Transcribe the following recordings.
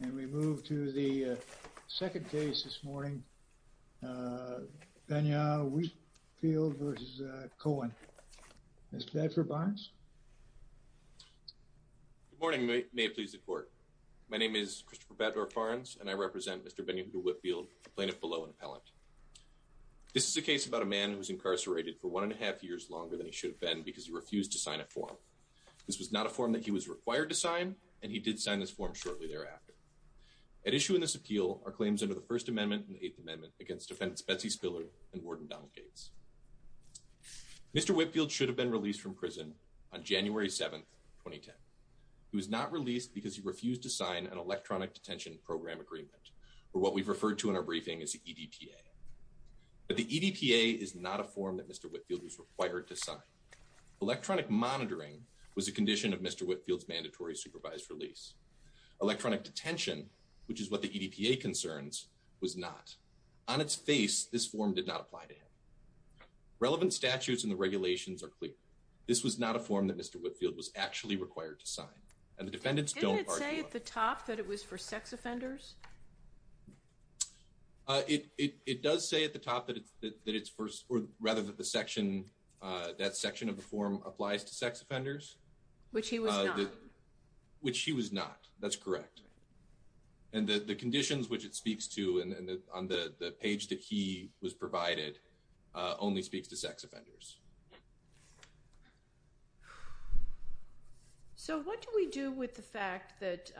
And we move to the second case this morning, BenYeHudah Whitfield v. Cowan. Mr. Baddorf-Barnes? Good morning, may it please the court. My name is Christopher Baddorf-Barnes and I represent Mr. BenYeHudah Whitfield, plaintiff below and appellant. This is a case about a man who was incarcerated for one and a half years longer than he should have been because he refused to sign a form. This was not a form that he was required to sign and he did sign this form shortly thereafter. At issue in this appeal are claims under the First Amendment and Eighth Amendment against defendants Betsy Spiller and Warden Donald Gates. Mr. Whitfield should have been released from prison on January 7, 2010. He was not released because he refused to sign an electronic detention program agreement or what we've referred to in our briefing as the EDPA. But the EDPA is not a form that Mr. Whitfield was required to sign. Electronic monitoring was a condition of Mr. Whitfield's mandatory supervised release. Electronic detention, which is what the EDPA concerns, was not. On its face, this form did not apply to him. Relevant statutes and the regulations are clear. This was not a form that Mr. Whitfield was actually required to sign and the defendants don't argue. Didn't it say at the top that it was for sex offenders? It does say at the top that it's for rather that that section of the form applies to sex offenders. Which he was not. Which he was not, that's correct. And the conditions which it speaks to and on the the page that he was provided only speaks to sex offenders. So what do we do with the fact that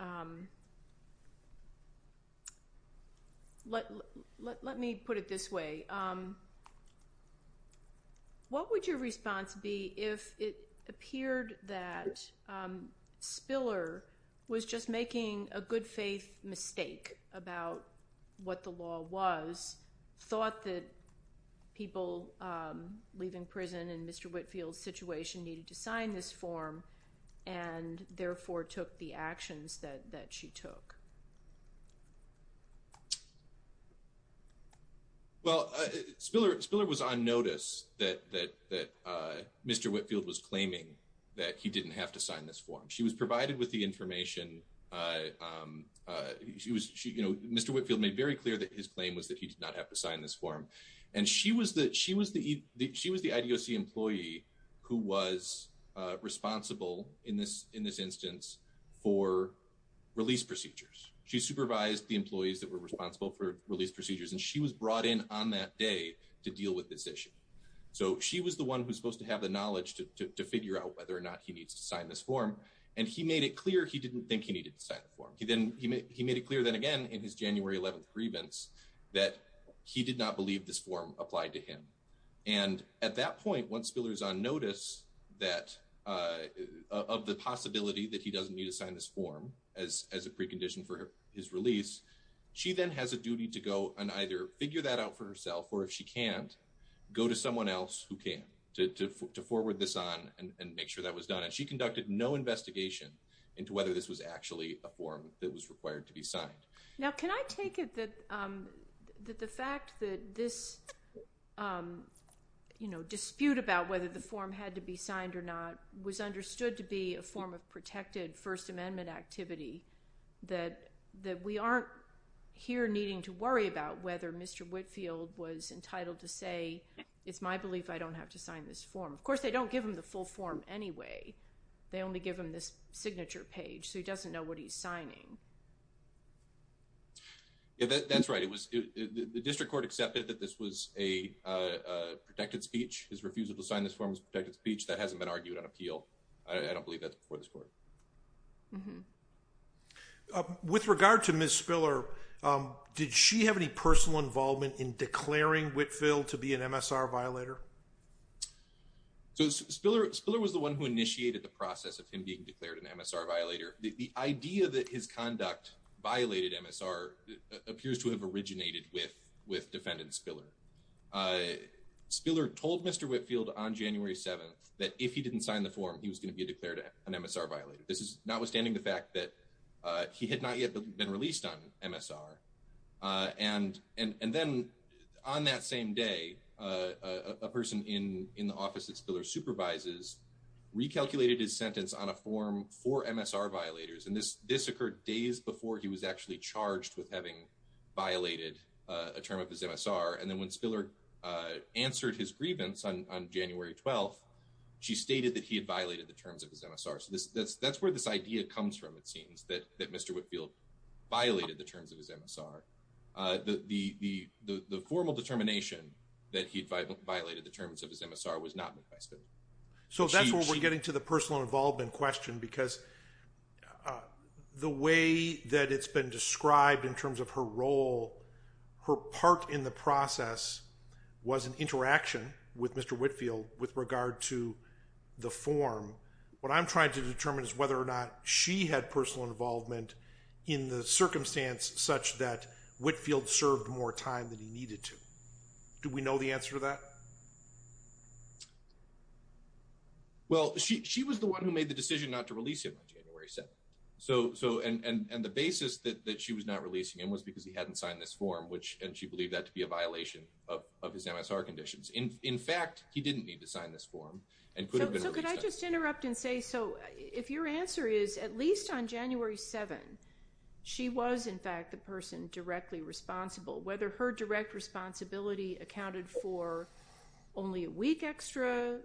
let me put it this way. What would your response be if it appeared that Spiller was just making a good faith mistake about what the law was, thought that people leaving prison in Mr. Whitfield's situation needed to sign this form, and therefore took the actions that she took? Well, Spiller was on notice that Mr. Whitfield was claiming that he didn't have to sign this form. She was provided with the information. Mr. Whitfield made very clear that his claim was that he did not have to sign this form. And she was the IDOC employee who was responsible in this instance for release procedures. She supervised the employees that were responsible for release procedures, and she was brought in on that day to deal with this issue. So she was the one who's supposed to have the knowledge to figure out whether or not he needs to sign this form. And he made it clear he didn't think he needed to sign the form. He made it clear then again in his January 11th grievance that he did not believe this form applied to him. And at that point, once Spiller's on of the possibility that he doesn't need to sign this form as a precondition for his release, she then has a duty to go and either figure that out for herself, or if she can't, go to someone else who can to forward this on and make sure that was done. And she conducted no investigation into whether this was actually a form that was required to be signed. Now can I take it that the fact that this dispute about whether the form had to be signed or not was understood to be a form of protected First Amendment activity that we aren't here needing to worry about whether Mr. Whitfield was entitled to say, it's my belief I don't have to sign this form. Of course, they don't give him the full form anyway. They only give him this signature page, so he doesn't know what he's signing. Yeah, that's right. The district court accepted that this was a protected speech. His refusal to sign this form is protected speech. That hasn't been argued on appeal. I don't believe that's before this court. With regard to Ms. Spiller, did she have any personal involvement in declaring Whitfield to be an MSR violator? So Spiller was the one who initiated the process of him being declared an MSR violator. The idea that his conduct violated MSR appears to have originated with defendant Spiller. Spiller told Mr. Whitfield on January 7th that if he didn't sign the form, he was going to be declared an MSR violator. This is notwithstanding the fact that he had not yet been released on MSR, and then on that same day, a person in the office that Spiller supervises recalculated his sentence on a form for MSR violators, and this occurred days before he was actually charged with having violated a term of his MSR. And then when Spiller answered his grievance on January 12th, she stated that he had violated the terms of his MSR. So that's where this idea comes from, it seems, that Mr. Whitfield violated the terms of his MSR. The formal determination that he'd violated the terms of his MSR was not made by Spiller. So that's where we're getting to the personal involvement question, because the way that it's been described in terms of her role, her part in the process was an interaction with Mr. Whitfield with regard to the form. What I'm trying to determine is whether or not she had personal involvement in the circumstance such that Whitfield served more time than he needed to. Do we know the answer to that? Well, she was the one who made the decision not to release him on January 7th. And the basis that she was not releasing him was because he hadn't signed this form, and she believed that to be a violation of his MSR conditions. In fact, he didn't need to sign this form. So could I just interrupt and say, so if your answer is at least on January 7, she was in fact the person directly responsible, whether her direct responsibility accounted for only a week extra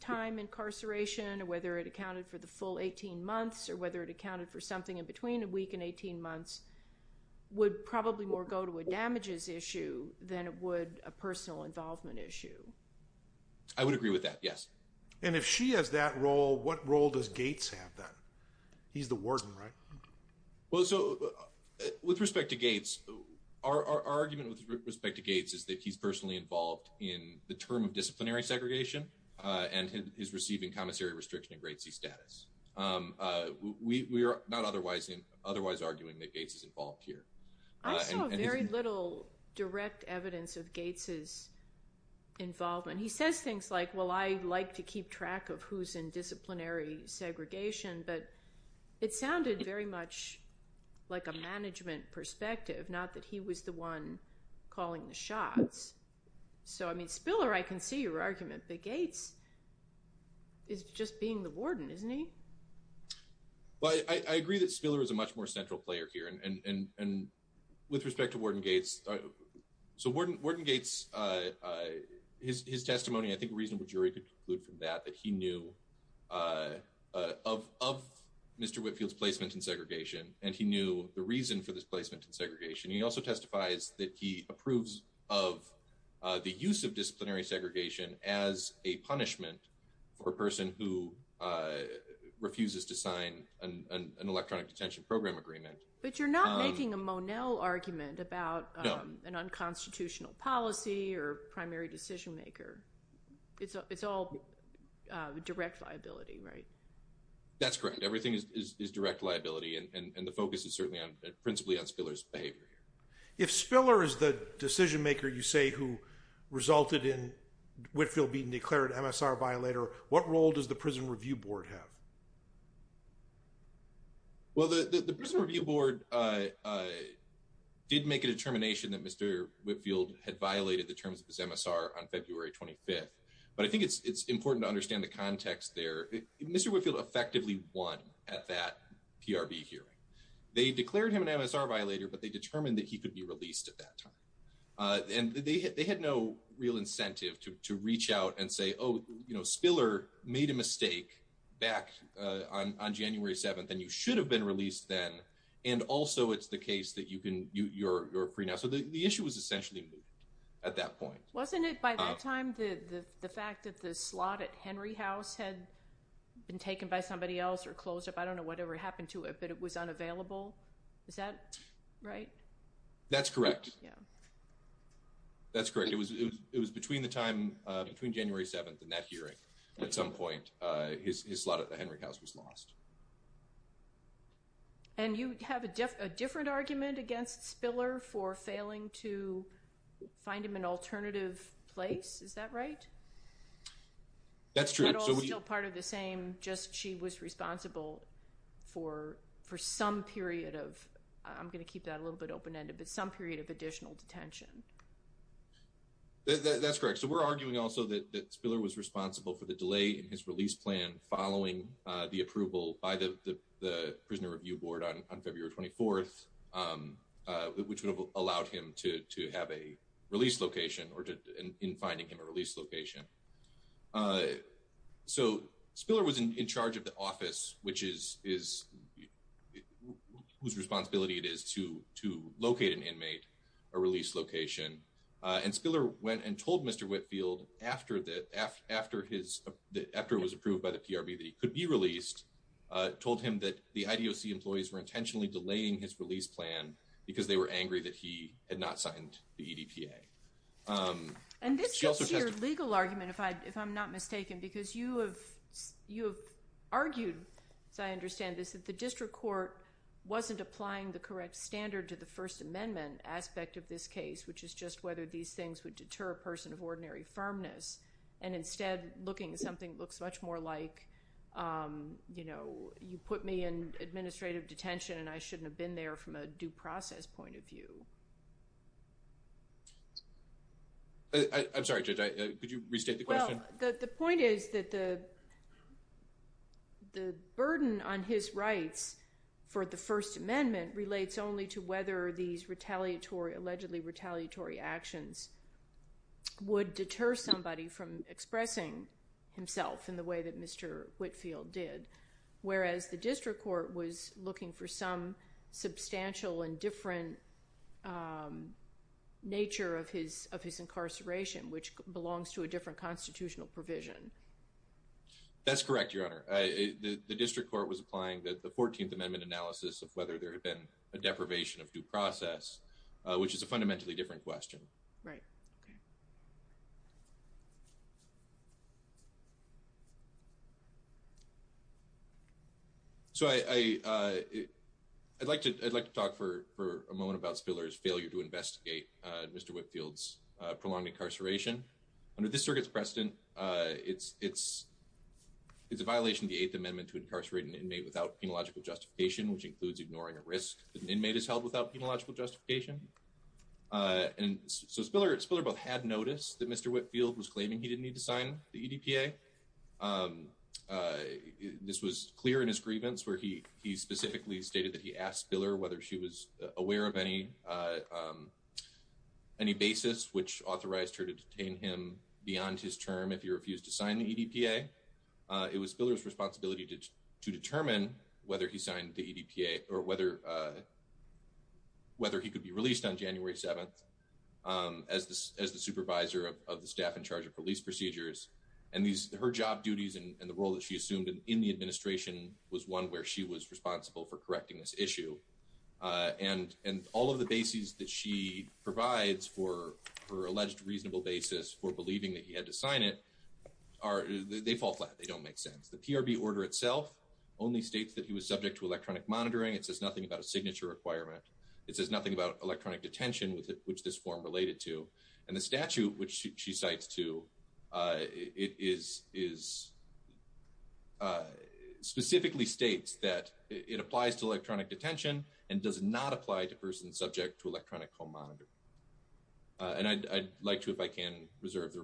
time incarceration, whether it accounted for the full 18 months, or whether it accounted for something in between a week and 18 months, would probably more go to a damages issue than it would a personal involvement issue. I would agree with that, yes. And if she has that role, what role does Gates have then? He's the warden, right? Well, so with respect to Gates, our argument with respect to Gates is that he's personally involved in the term of disciplinary segregation and is receiving commissary restriction in grade C status. We are not otherwise arguing that Gates is involved here. I saw very little direct evidence of Gates's involvement. He says things like, well, I like to keep track of who's in disciplinary segregation, but it sounded very much like a management perspective, not that he was the one calling the shots. So, I mean, Spiller, I can see your argument, but Gates is just being the warden, isn't he? Well, I agree that Spiller is a much more central player here, and with respect to Warden Gates, so Warden Gates, his testimony, I think a reasonable jury could conclude from that, that he knew of Mr. Whitfield's placement in the reason for this placement in segregation. He also testifies that he approves of the use of disciplinary segregation as a punishment for a person who refuses to sign an electronic detention program agreement. But you're not making a Monell argument about an unconstitutional policy or primary decision maker. It's all direct liability, right? That's correct. Everything is direct liability, and the focus is principally on Spiller's behavior here. If Spiller is the decision maker, you say, who resulted in Whitfield being declared MSR violator, what role does the Prison Review Board have? Well, the Prison Review Board did make a determination that Mr. Whitfield had violated the terms of his MSR on February 25th, but I think it's important to understand the context there. Mr. Whitfield effectively won at that PRB hearing. They declared him an MSR violator, but they determined that he could be released at that time. And they had no real incentive to to reach out and say, oh, you know, Spiller made a mistake back on January 7th, and you should have been released then, and also it's the case that you can, you're free now. So the issue was essentially moved at that point. Wasn't it by that time that the fact that the slot at Henry House had been taken by somebody else or closed up? I don't know whatever happened to it, but it was unavailable. Is that right? That's correct. Yeah. That's correct. It was between the time, between January 7th and that hearing at some point, his slot at the Henry House was lost. And you have a different argument against Spiller for failing to find him an alternative place. Is that right? That's true. That's still part of the same, just she was responsible for for some period of, I'm going to keep that a little bit open-ended, but some period of additional detention. That's correct. So we're arguing also that Spiller was responsible for the delay in his release plan following the approval by the the Prisoner Review Board on February 24th, which would have allowed him to to have a release location. So Spiller was in charge of the office, whose responsibility it is to to locate an inmate, a release location. And Spiller went and told Mr. Whitfield after it was approved by the PRB that he could be released, told him that the IDOC employees were intentionally delaying his release plan because they were angry that he had not signed the EDPA. And this gets to your legal argument, if I'm not mistaken, because you have argued, as I understand this, that the District Court wasn't applying the correct standard to the First Amendment aspect of this case, which is just whether these things would deter a person of ordinary firmness, and instead looking at something that looks much more like, you know, you put me in administrative detention and I shouldn't have been there from a due process point of view. I'm sorry, Judge, could you restate the question? Well, the point is that the the burden on his rights for the First Amendment relates only to whether these retaliatory, allegedly retaliatory, actions would deter somebody from expressing himself in the way that Mr. Whitfield did, whereas the District Court was looking for some substantial and different nature of his incarceration, which belongs to a different constitutional provision. That's correct, Your Honor. The District Court was applying the 14th Amendment analysis of whether there had been a deprivation of due process, which is a fundamentally different question. Right, okay. So I'd like to talk for a moment about Spiller's failure to investigate Mr. Whitfield's prolonged incarceration. Under this circuit's precedent, it's a violation of the Eighth Amendment to incarcerate an inmate without penological justification, which includes ignoring a risk that an inmate is held without penological justification. So Spiller both had notice that Mr. Whitfield was claiming he didn't need to sign the EDPA. This was clear in his grievance where he specifically stated that he asked Spiller whether she was aware of any basis which authorized her to detain him beyond his term if he refused to sign the EDPA. It was Spiller's responsibility to determine whether he signed the EDPA or whether he could be released on January 7th as the supervisor of the staff in charge of police procedures. Her job duties and the role that she assumed in the administration was one where she was responsible for correcting this issue. All of the bases that she provides for her alleged reasonable basis for believing that he had to sign it fall flat. They don't make sense. The PRB order itself only states that he was subject to electronic monitoring. It says nothing about a signature requirement. It says nothing about electronic detention with which this form related to. And the statute which she cites too specifically states that it applies to electronic detention and does not apply to persons subject to electronic home monitoring. And I'd like to if I can reserve the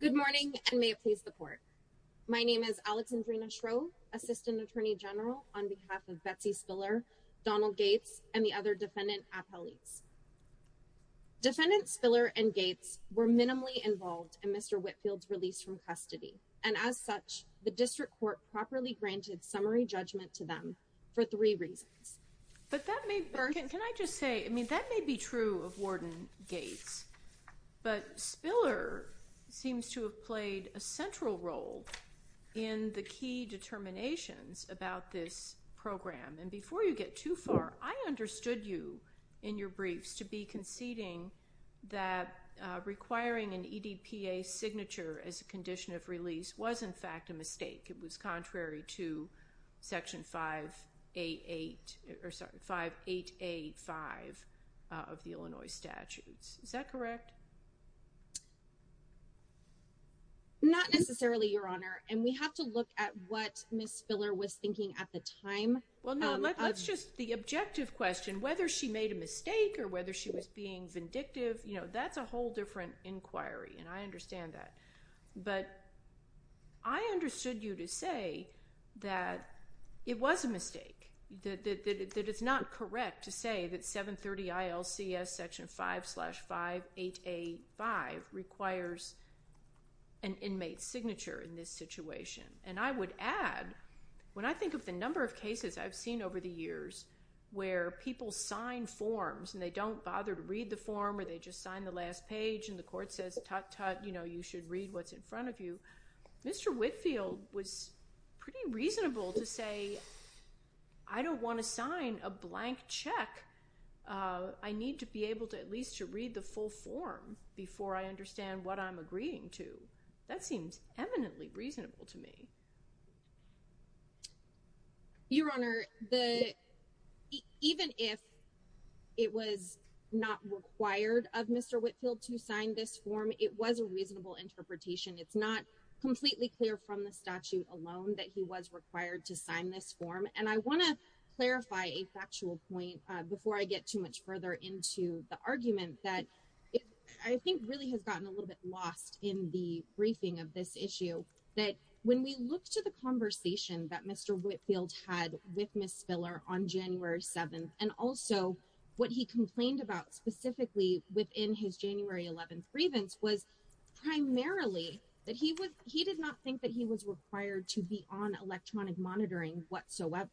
Good morning and may it please the court. My name is Alexandrina Shrove, Assistant Attorney General on behalf of Betsy Spiller, Donald Gates and the other defendant appellates. Defendants Spiller and Gates were minimally involved in Mr. Whitfield's release from custody and as such the district court properly granted summary judgment to them for three reasons. But that may, can I just say I mean that may be true of seems to have played a central role in the key determinations about this program. And before you get too far I understood you in your briefs to be conceding that requiring an EDPA signature as a condition of release was in fact a mistake. It was contrary to section 588 or sorry 5885 of the Illinois statutes. Is that correct? Not necessarily your honor and we have to look at what Ms. Spiller was thinking at the time. Well no that's just the objective question whether she made a mistake or whether she was being vindictive you know that's a whole different inquiry and I understand that. But I understood you to say that it was a mistake that it's not correct to say that 730 ILCS section 5 slash 5885 requires an inmate signature in this situation. And I would add when I think of the number of cases I've seen over the years where people sign forms and they don't bother to read the form or they just sign the last page and the court says tut tut you know you should read what's in front of you. Mr. Whitfield was pretty reasonable to say I don't want to sign a blank check. I need to be able to at least to read the full form before I understand what I'm agreeing to. That seems eminently reasonable to me. Your honor the even if it was not required of Mr. Whitfield to sign this form it was a reasonable interpretation. It's not completely clear from the statute alone that he was required to sign this form and I want to clarify a factual point before I get too much further into the argument that I think really has gotten a little bit lost in the briefing of this issue that when we look to the conversation that Mr. Whitfield had with Ms. Spiller on January 7th and also what he complained about specifically within his January 11th grievance was primarily that he was he did not think that he was required to be on electronic monitoring whatsoever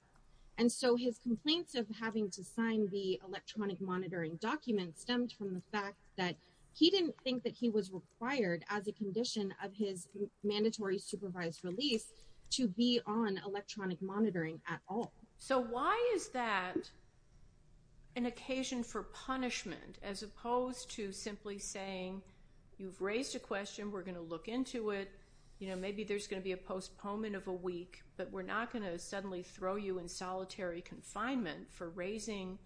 and so his complaints of having to sign the electronic monitoring document stemmed from the fact that he didn't think that he was required as a condition of his mandatory supervised release to be on electronic monitoring at all. So why is that an occasion for punishment as opposed to simply saying you've raised a question we're going to look into it you know maybe there's going to be a postponement of a week but we're not going to suddenly throw you in solitary confinement for raising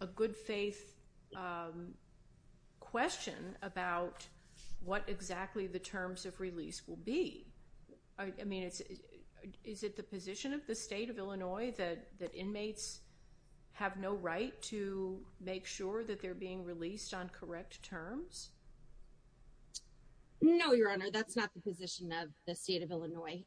a good faith question about what exactly the terms of release will be? I mean it's is it the position of the state of Illinois that that inmates have no right to make sure that they're being released on No your honor that's not the position of the state of Illinois.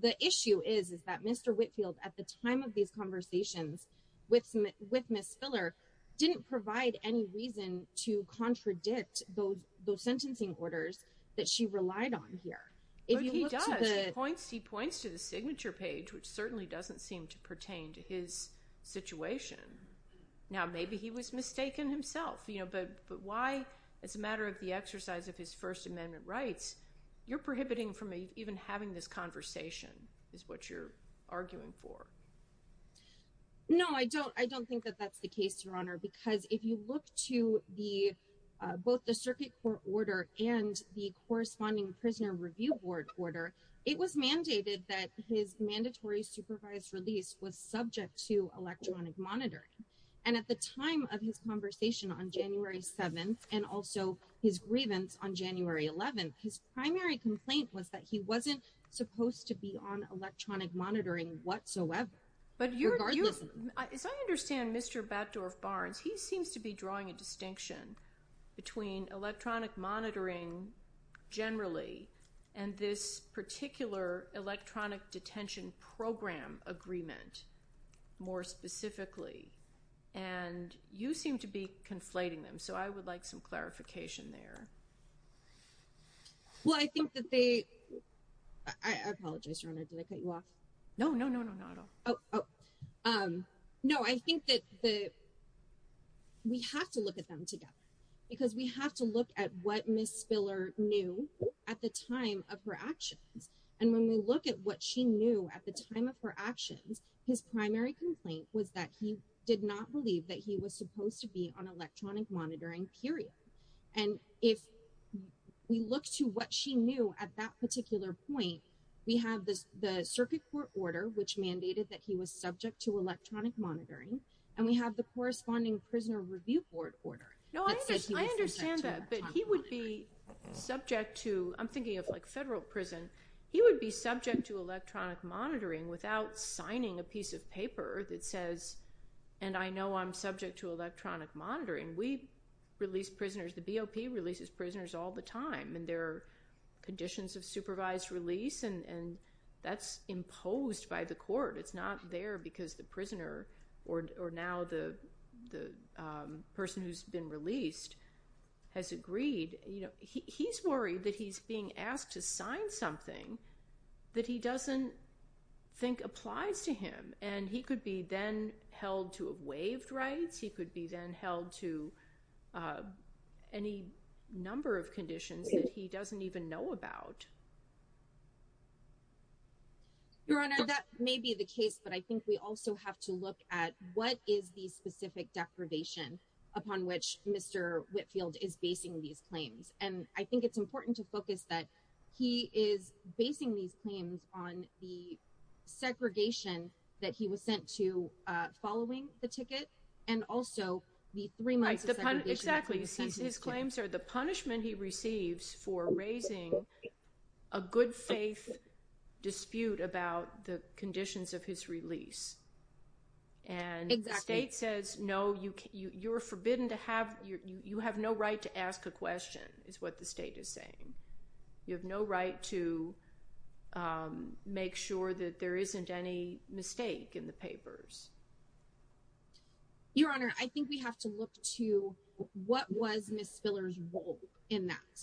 The issue is is that Mr. Whitfield at the time of these conversations with with Ms. Spiller didn't provide any reason to contradict those those sentencing orders that she relied on here if he does he points he points to the signature page which certainly doesn't seem to pertain to his situation. Now maybe he was mistaken himself you know but but why as a matter of the exercise of his first amendment rights you're prohibiting from even having this conversation is what you're arguing for. No I don't I don't think that that's the case your honor because if you look to the both the circuit court order and the corresponding prisoner review board order it was mandated that his mandatory supervised release was subject to electronic monitoring and at the time of his conversation on January 7th and also his grievance on January 11th his primary complaint was that he wasn't supposed to be on electronic monitoring whatsoever. But as I understand Mr. Baddorf-Barnes he seems to be drawing a distinction between electronic monitoring generally and this particular electronic detention program agreement more specifically and you seem to be conflating them so I would like some clarification there. Well I think that they I apologize your honor did I cut you off? No no no no not at all. Oh um no I think that the we have to look at them together because we have to look at what Miss Spiller knew at the time of her actions and when we look at what she knew at the time of her actions his primary complaint was that he did not believe that he was supposed to be on electronic monitoring period and if we look to what she knew at that particular point we have this the circuit court order which mandated that he was subject to electronic monitoring and we have the corresponding prisoner review board order. No I understand that but he would be subject to I'm thinking of like federal prison he would be subject to electronic monitoring without signing a piece of paper that says and I know I'm subject to electronic monitoring we release prisoners the BOP releases prisoners all the time and their conditions of supervised release and and that's imposed by the court it's not there because the prisoner or or now the the person who's been released has agreed you know he's worried that he's being asked to sign something that he doesn't think applies to him and he could be then held to waived rights he could be then held to any number of conditions that he doesn't even know about. Your honor that may be the case but I think we also have to look at what is the specific deprivation upon which Mr. Whitfield is basing these claims and I think it's important to focus that he is basing these claims on the segregation that he was sent to following the ticket and also the three months exactly his claims are the punishment he receives for raising a good faith dispute about the conditions of his release and the state says no you can you you're forbidden to have you you have no right to ask a question is what the state is saying you have no right to make sure that there isn't any mistake in the papers. Your honor I think we have to look to what was Miss Spiller's role in that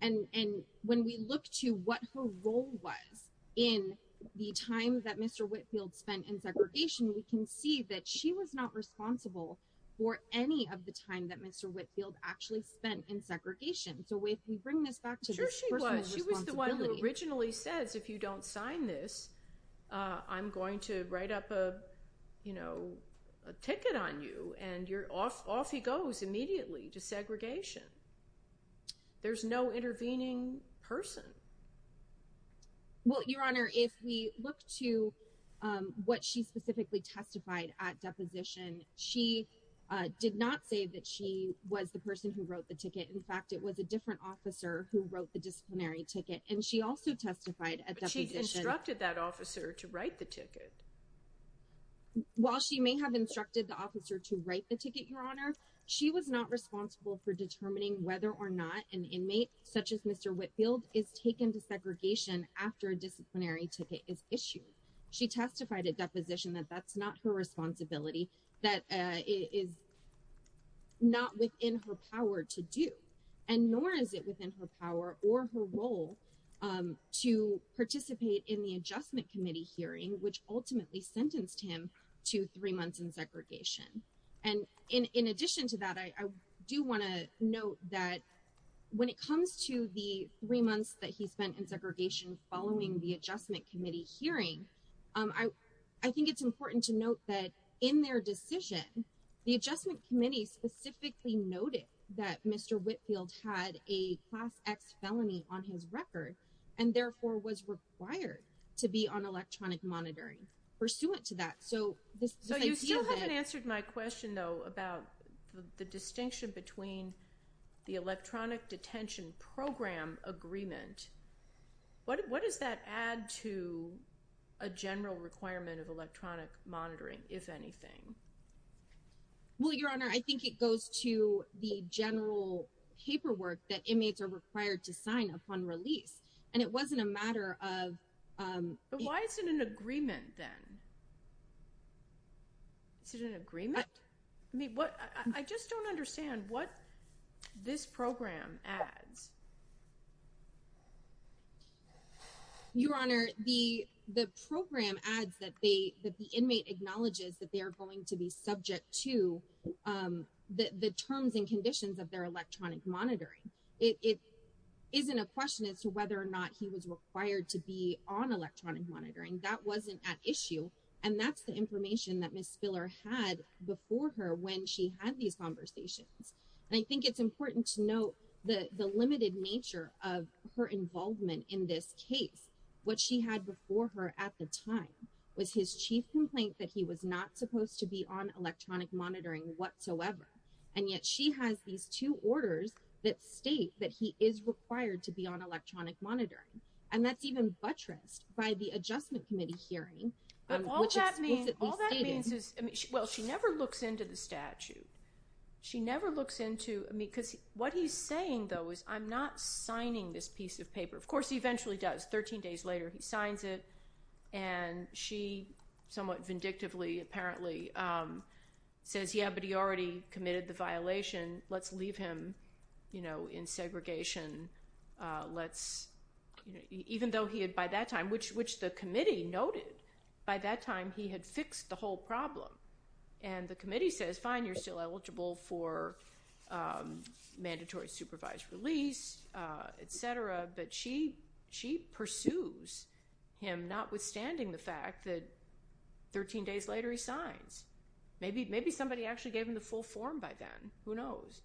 and and when we look to what her role was in the time that Mr. Whitfield spent in segregation we can see that she was not responsible for any of the time that Mr. Whitfield actually spent in segregation so if we bring this back to her she was she was the one who originally says if you don't sign this uh I'm going to write up a you know a ticket on you and you're off off he goes immediately to segregation there's no intervening person. Well your honor if we look to um what she specifically testified at deposition she did not say that she was the person who wrote the ticket in fact it was a different officer who wrote the disciplinary ticket and she also testified at she instructed that officer to write the ticket while she may have instructed the officer to write the ticket your honor she was not responsible for determining whether or not an inmate such as Mr. Whitfield is taken to segregation after a disciplinary ticket is issued she testified at deposition that that's not her responsibility that is not within her power to do and nor is it within her power or her role to participate in the adjustment committee hearing which ultimately sentenced him to three months in segregation and in in addition to that I do want to note that when it comes to the three months that he spent in segregation following the adjustment hearing um I I think it's important to note that in their decision the adjustment committee specifically noted that Mr. Whitfield had a class x felony on his record and therefore was required to be on electronic monitoring pursuant to that so this so you still haven't answered my question though about the distinction between the electronic detention program agreement what what does that add to a general requirement of electronic monitoring if anything well your honor I think it goes to the general paperwork that inmates are required to sign upon release and it wasn't a matter of um but why is it an agreement then is it an agreement I mean what I just don't understand what this program adds your honor the the program adds that they that the inmate acknowledges that they are going to be subject to um the the terms and conditions of their electronic monitoring it it isn't a question as to whether or not he was required to be on electronic monitoring that wasn't at issue and that's the information that Miss Spiller had before her when she had these conversations and I think it's important to note the the limited nature of her involvement in this case what she had before her at the time was his chief complaint that he was not supposed to be on electronic monitoring whatsoever and yet she has these two orders that state that he is required to be on electronic monitoring and that's even buttressed by the adjustment committee hearing but all that means all that means is well she never looks into the statute she never looks into I mean because what he's saying though is I'm not signing this piece of paper of course he eventually does 13 days later he signs it and she somewhat vindictively apparently um says yeah but he already committed the violation let's leave him you know in segregation let's you know even though he had by that time which which the committee noted by that time he had fixed the whole problem and the committee says fine you're still eligible for um mandatory supervised release uh etc but she she pursues him notwithstanding the fact that 13 days later he signs maybe maybe somebody actually gave him the full form by then who knows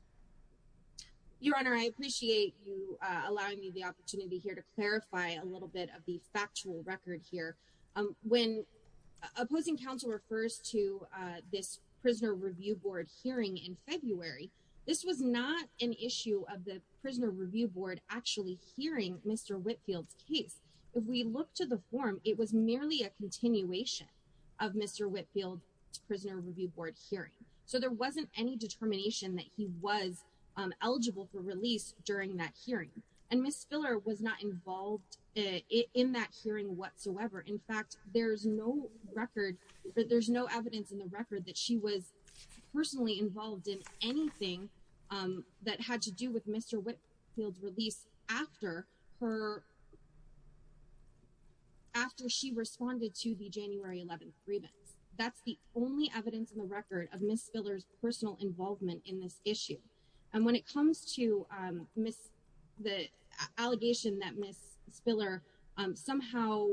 your honor I appreciate you uh allowing me the opportunity here to clarify a um when opposing counsel refers to uh this prisoner review board hearing in February this was not an issue of the prisoner review board actually hearing Mr. Whitfield's case if we look to the form it was merely a continuation of Mr. Whitfield's prisoner review board hearing so there wasn't any determination that he was eligible for release during that hearing and Ms. Filler was not involved in that hearing whatsoever in fact there's no record there's no evidence in the record that she was personally involved in anything um that had to do with Mr. Whitfield's release after her after she responded to the January 11th grievance that's the only evidence in the record of Ms. Filler's personal involvement in this issue and when it comes to um Ms. the Spiller um somehow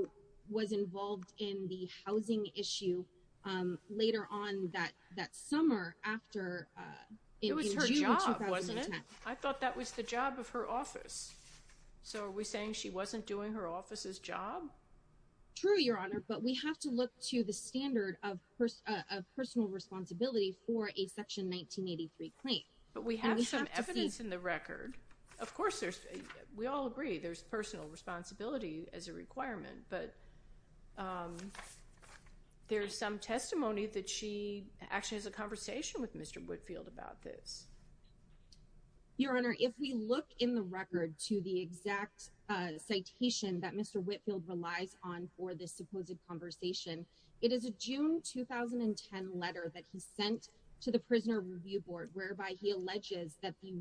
was involved in the housing issue um later on that that summer after uh it was her job wasn't it I thought that was the job of her office so are we saying she wasn't doing her office's job true your honor but we have to look to the standard of personal responsibility for a section 1983 claim but we have some evidence in the record of course there's we all agree there's personal responsibility as a requirement but um there's some testimony that she actually has a conversation with Mr. Whitfield about this your honor if we look in the record to the exact uh citation that Mr. Whitfield relies on for this supposed conversation it is a June 2010 letter that he sent to the prisoner review board whereby he alleges that the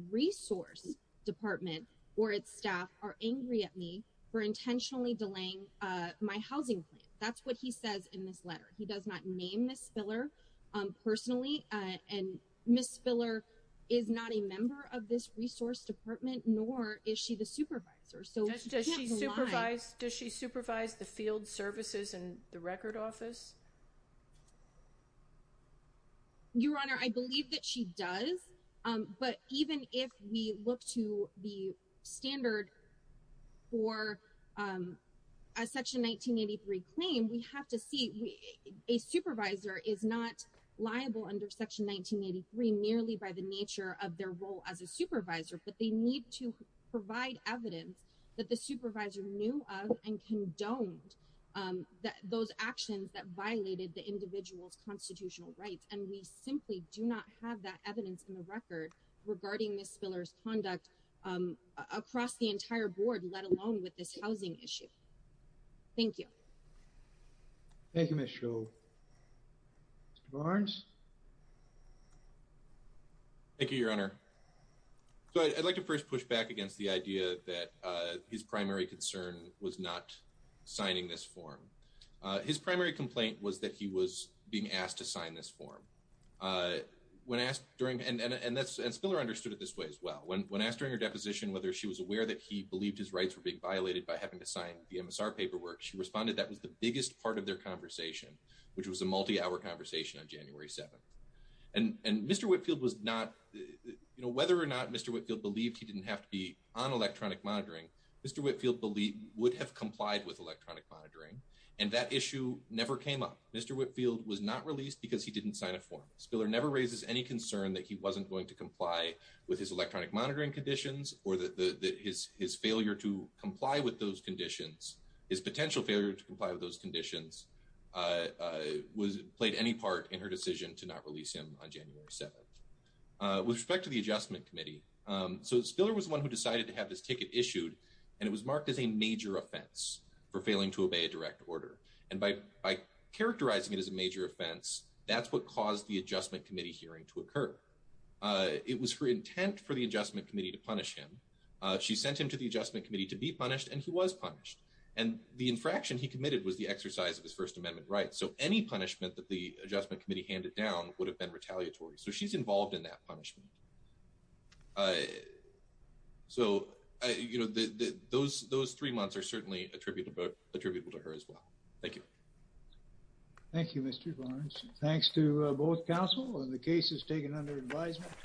department or its staff are angry at me for intentionally delaying uh my housing plan that's what he says in this letter he does not name Ms. Spiller um personally uh and Ms. Spiller is not a member of this resource department nor is she the supervisor so does she supervise does she supervise the field services and the record office your honor i believe that she does um but even if we look to the standard for um a section 1983 claim we have to see a supervisor is not liable under section 1983 merely by the nature of their role as a supervisor but they need to provide evidence that the supervisor knew of and condoned um that those actions that violated the individual's constitutional rights and we simply do not have that evidence in the record regarding Ms. Spiller's conduct um across the entire board let alone with this housing issue thank you thank you Ms. Scholl Mr. Barnes thank you your honor so i'd like to first push back against the idea that uh his primary concern was not signing this form uh his primary complaint was that he was being asked to sign this form uh when asked during and and that's and Spiller understood it this way as well when when asked during her deposition whether she was aware that he believed his rights were being violated by having to sign the MSR paperwork she responded that was the biggest part of their conversation which was a multi-hour conversation on January 7th and and Mr. Whitfield was not you know whether or not Mr. Whitfield believed he didn't have to be on electronic monitoring Mr. Whitfield believed would have complied with electronic monitoring and that issue never came up Mr. Whitfield was not released because he didn't sign a form Spiller never raises any concern that he wasn't going to comply with his electronic monitoring conditions or that the his his failure to comply with those conditions his potential failure to comply with those conditions uh was played any part in her decision to not release him on January 7th with respect to the adjustment committee um so Spiller was the one who decided to have this ticket issued and it was marked as a major offense for failing to obey a direct order and by by characterizing it as a major offense that's what caused the adjustment committee hearing to occur it was her intent for the adjustment committee to punish him she sent him to the adjustment committee to be punished and he was punished and the infraction he committed was the exercise of his first amendment right so any punishment that the adjustment committee handed down would have been retaliatory so she's involved in that punishment uh so you know the those those three months are certainly attributable attributable to her as well thank you thank you Mr. Barnes thanks to both counsel and the cases taken under advisement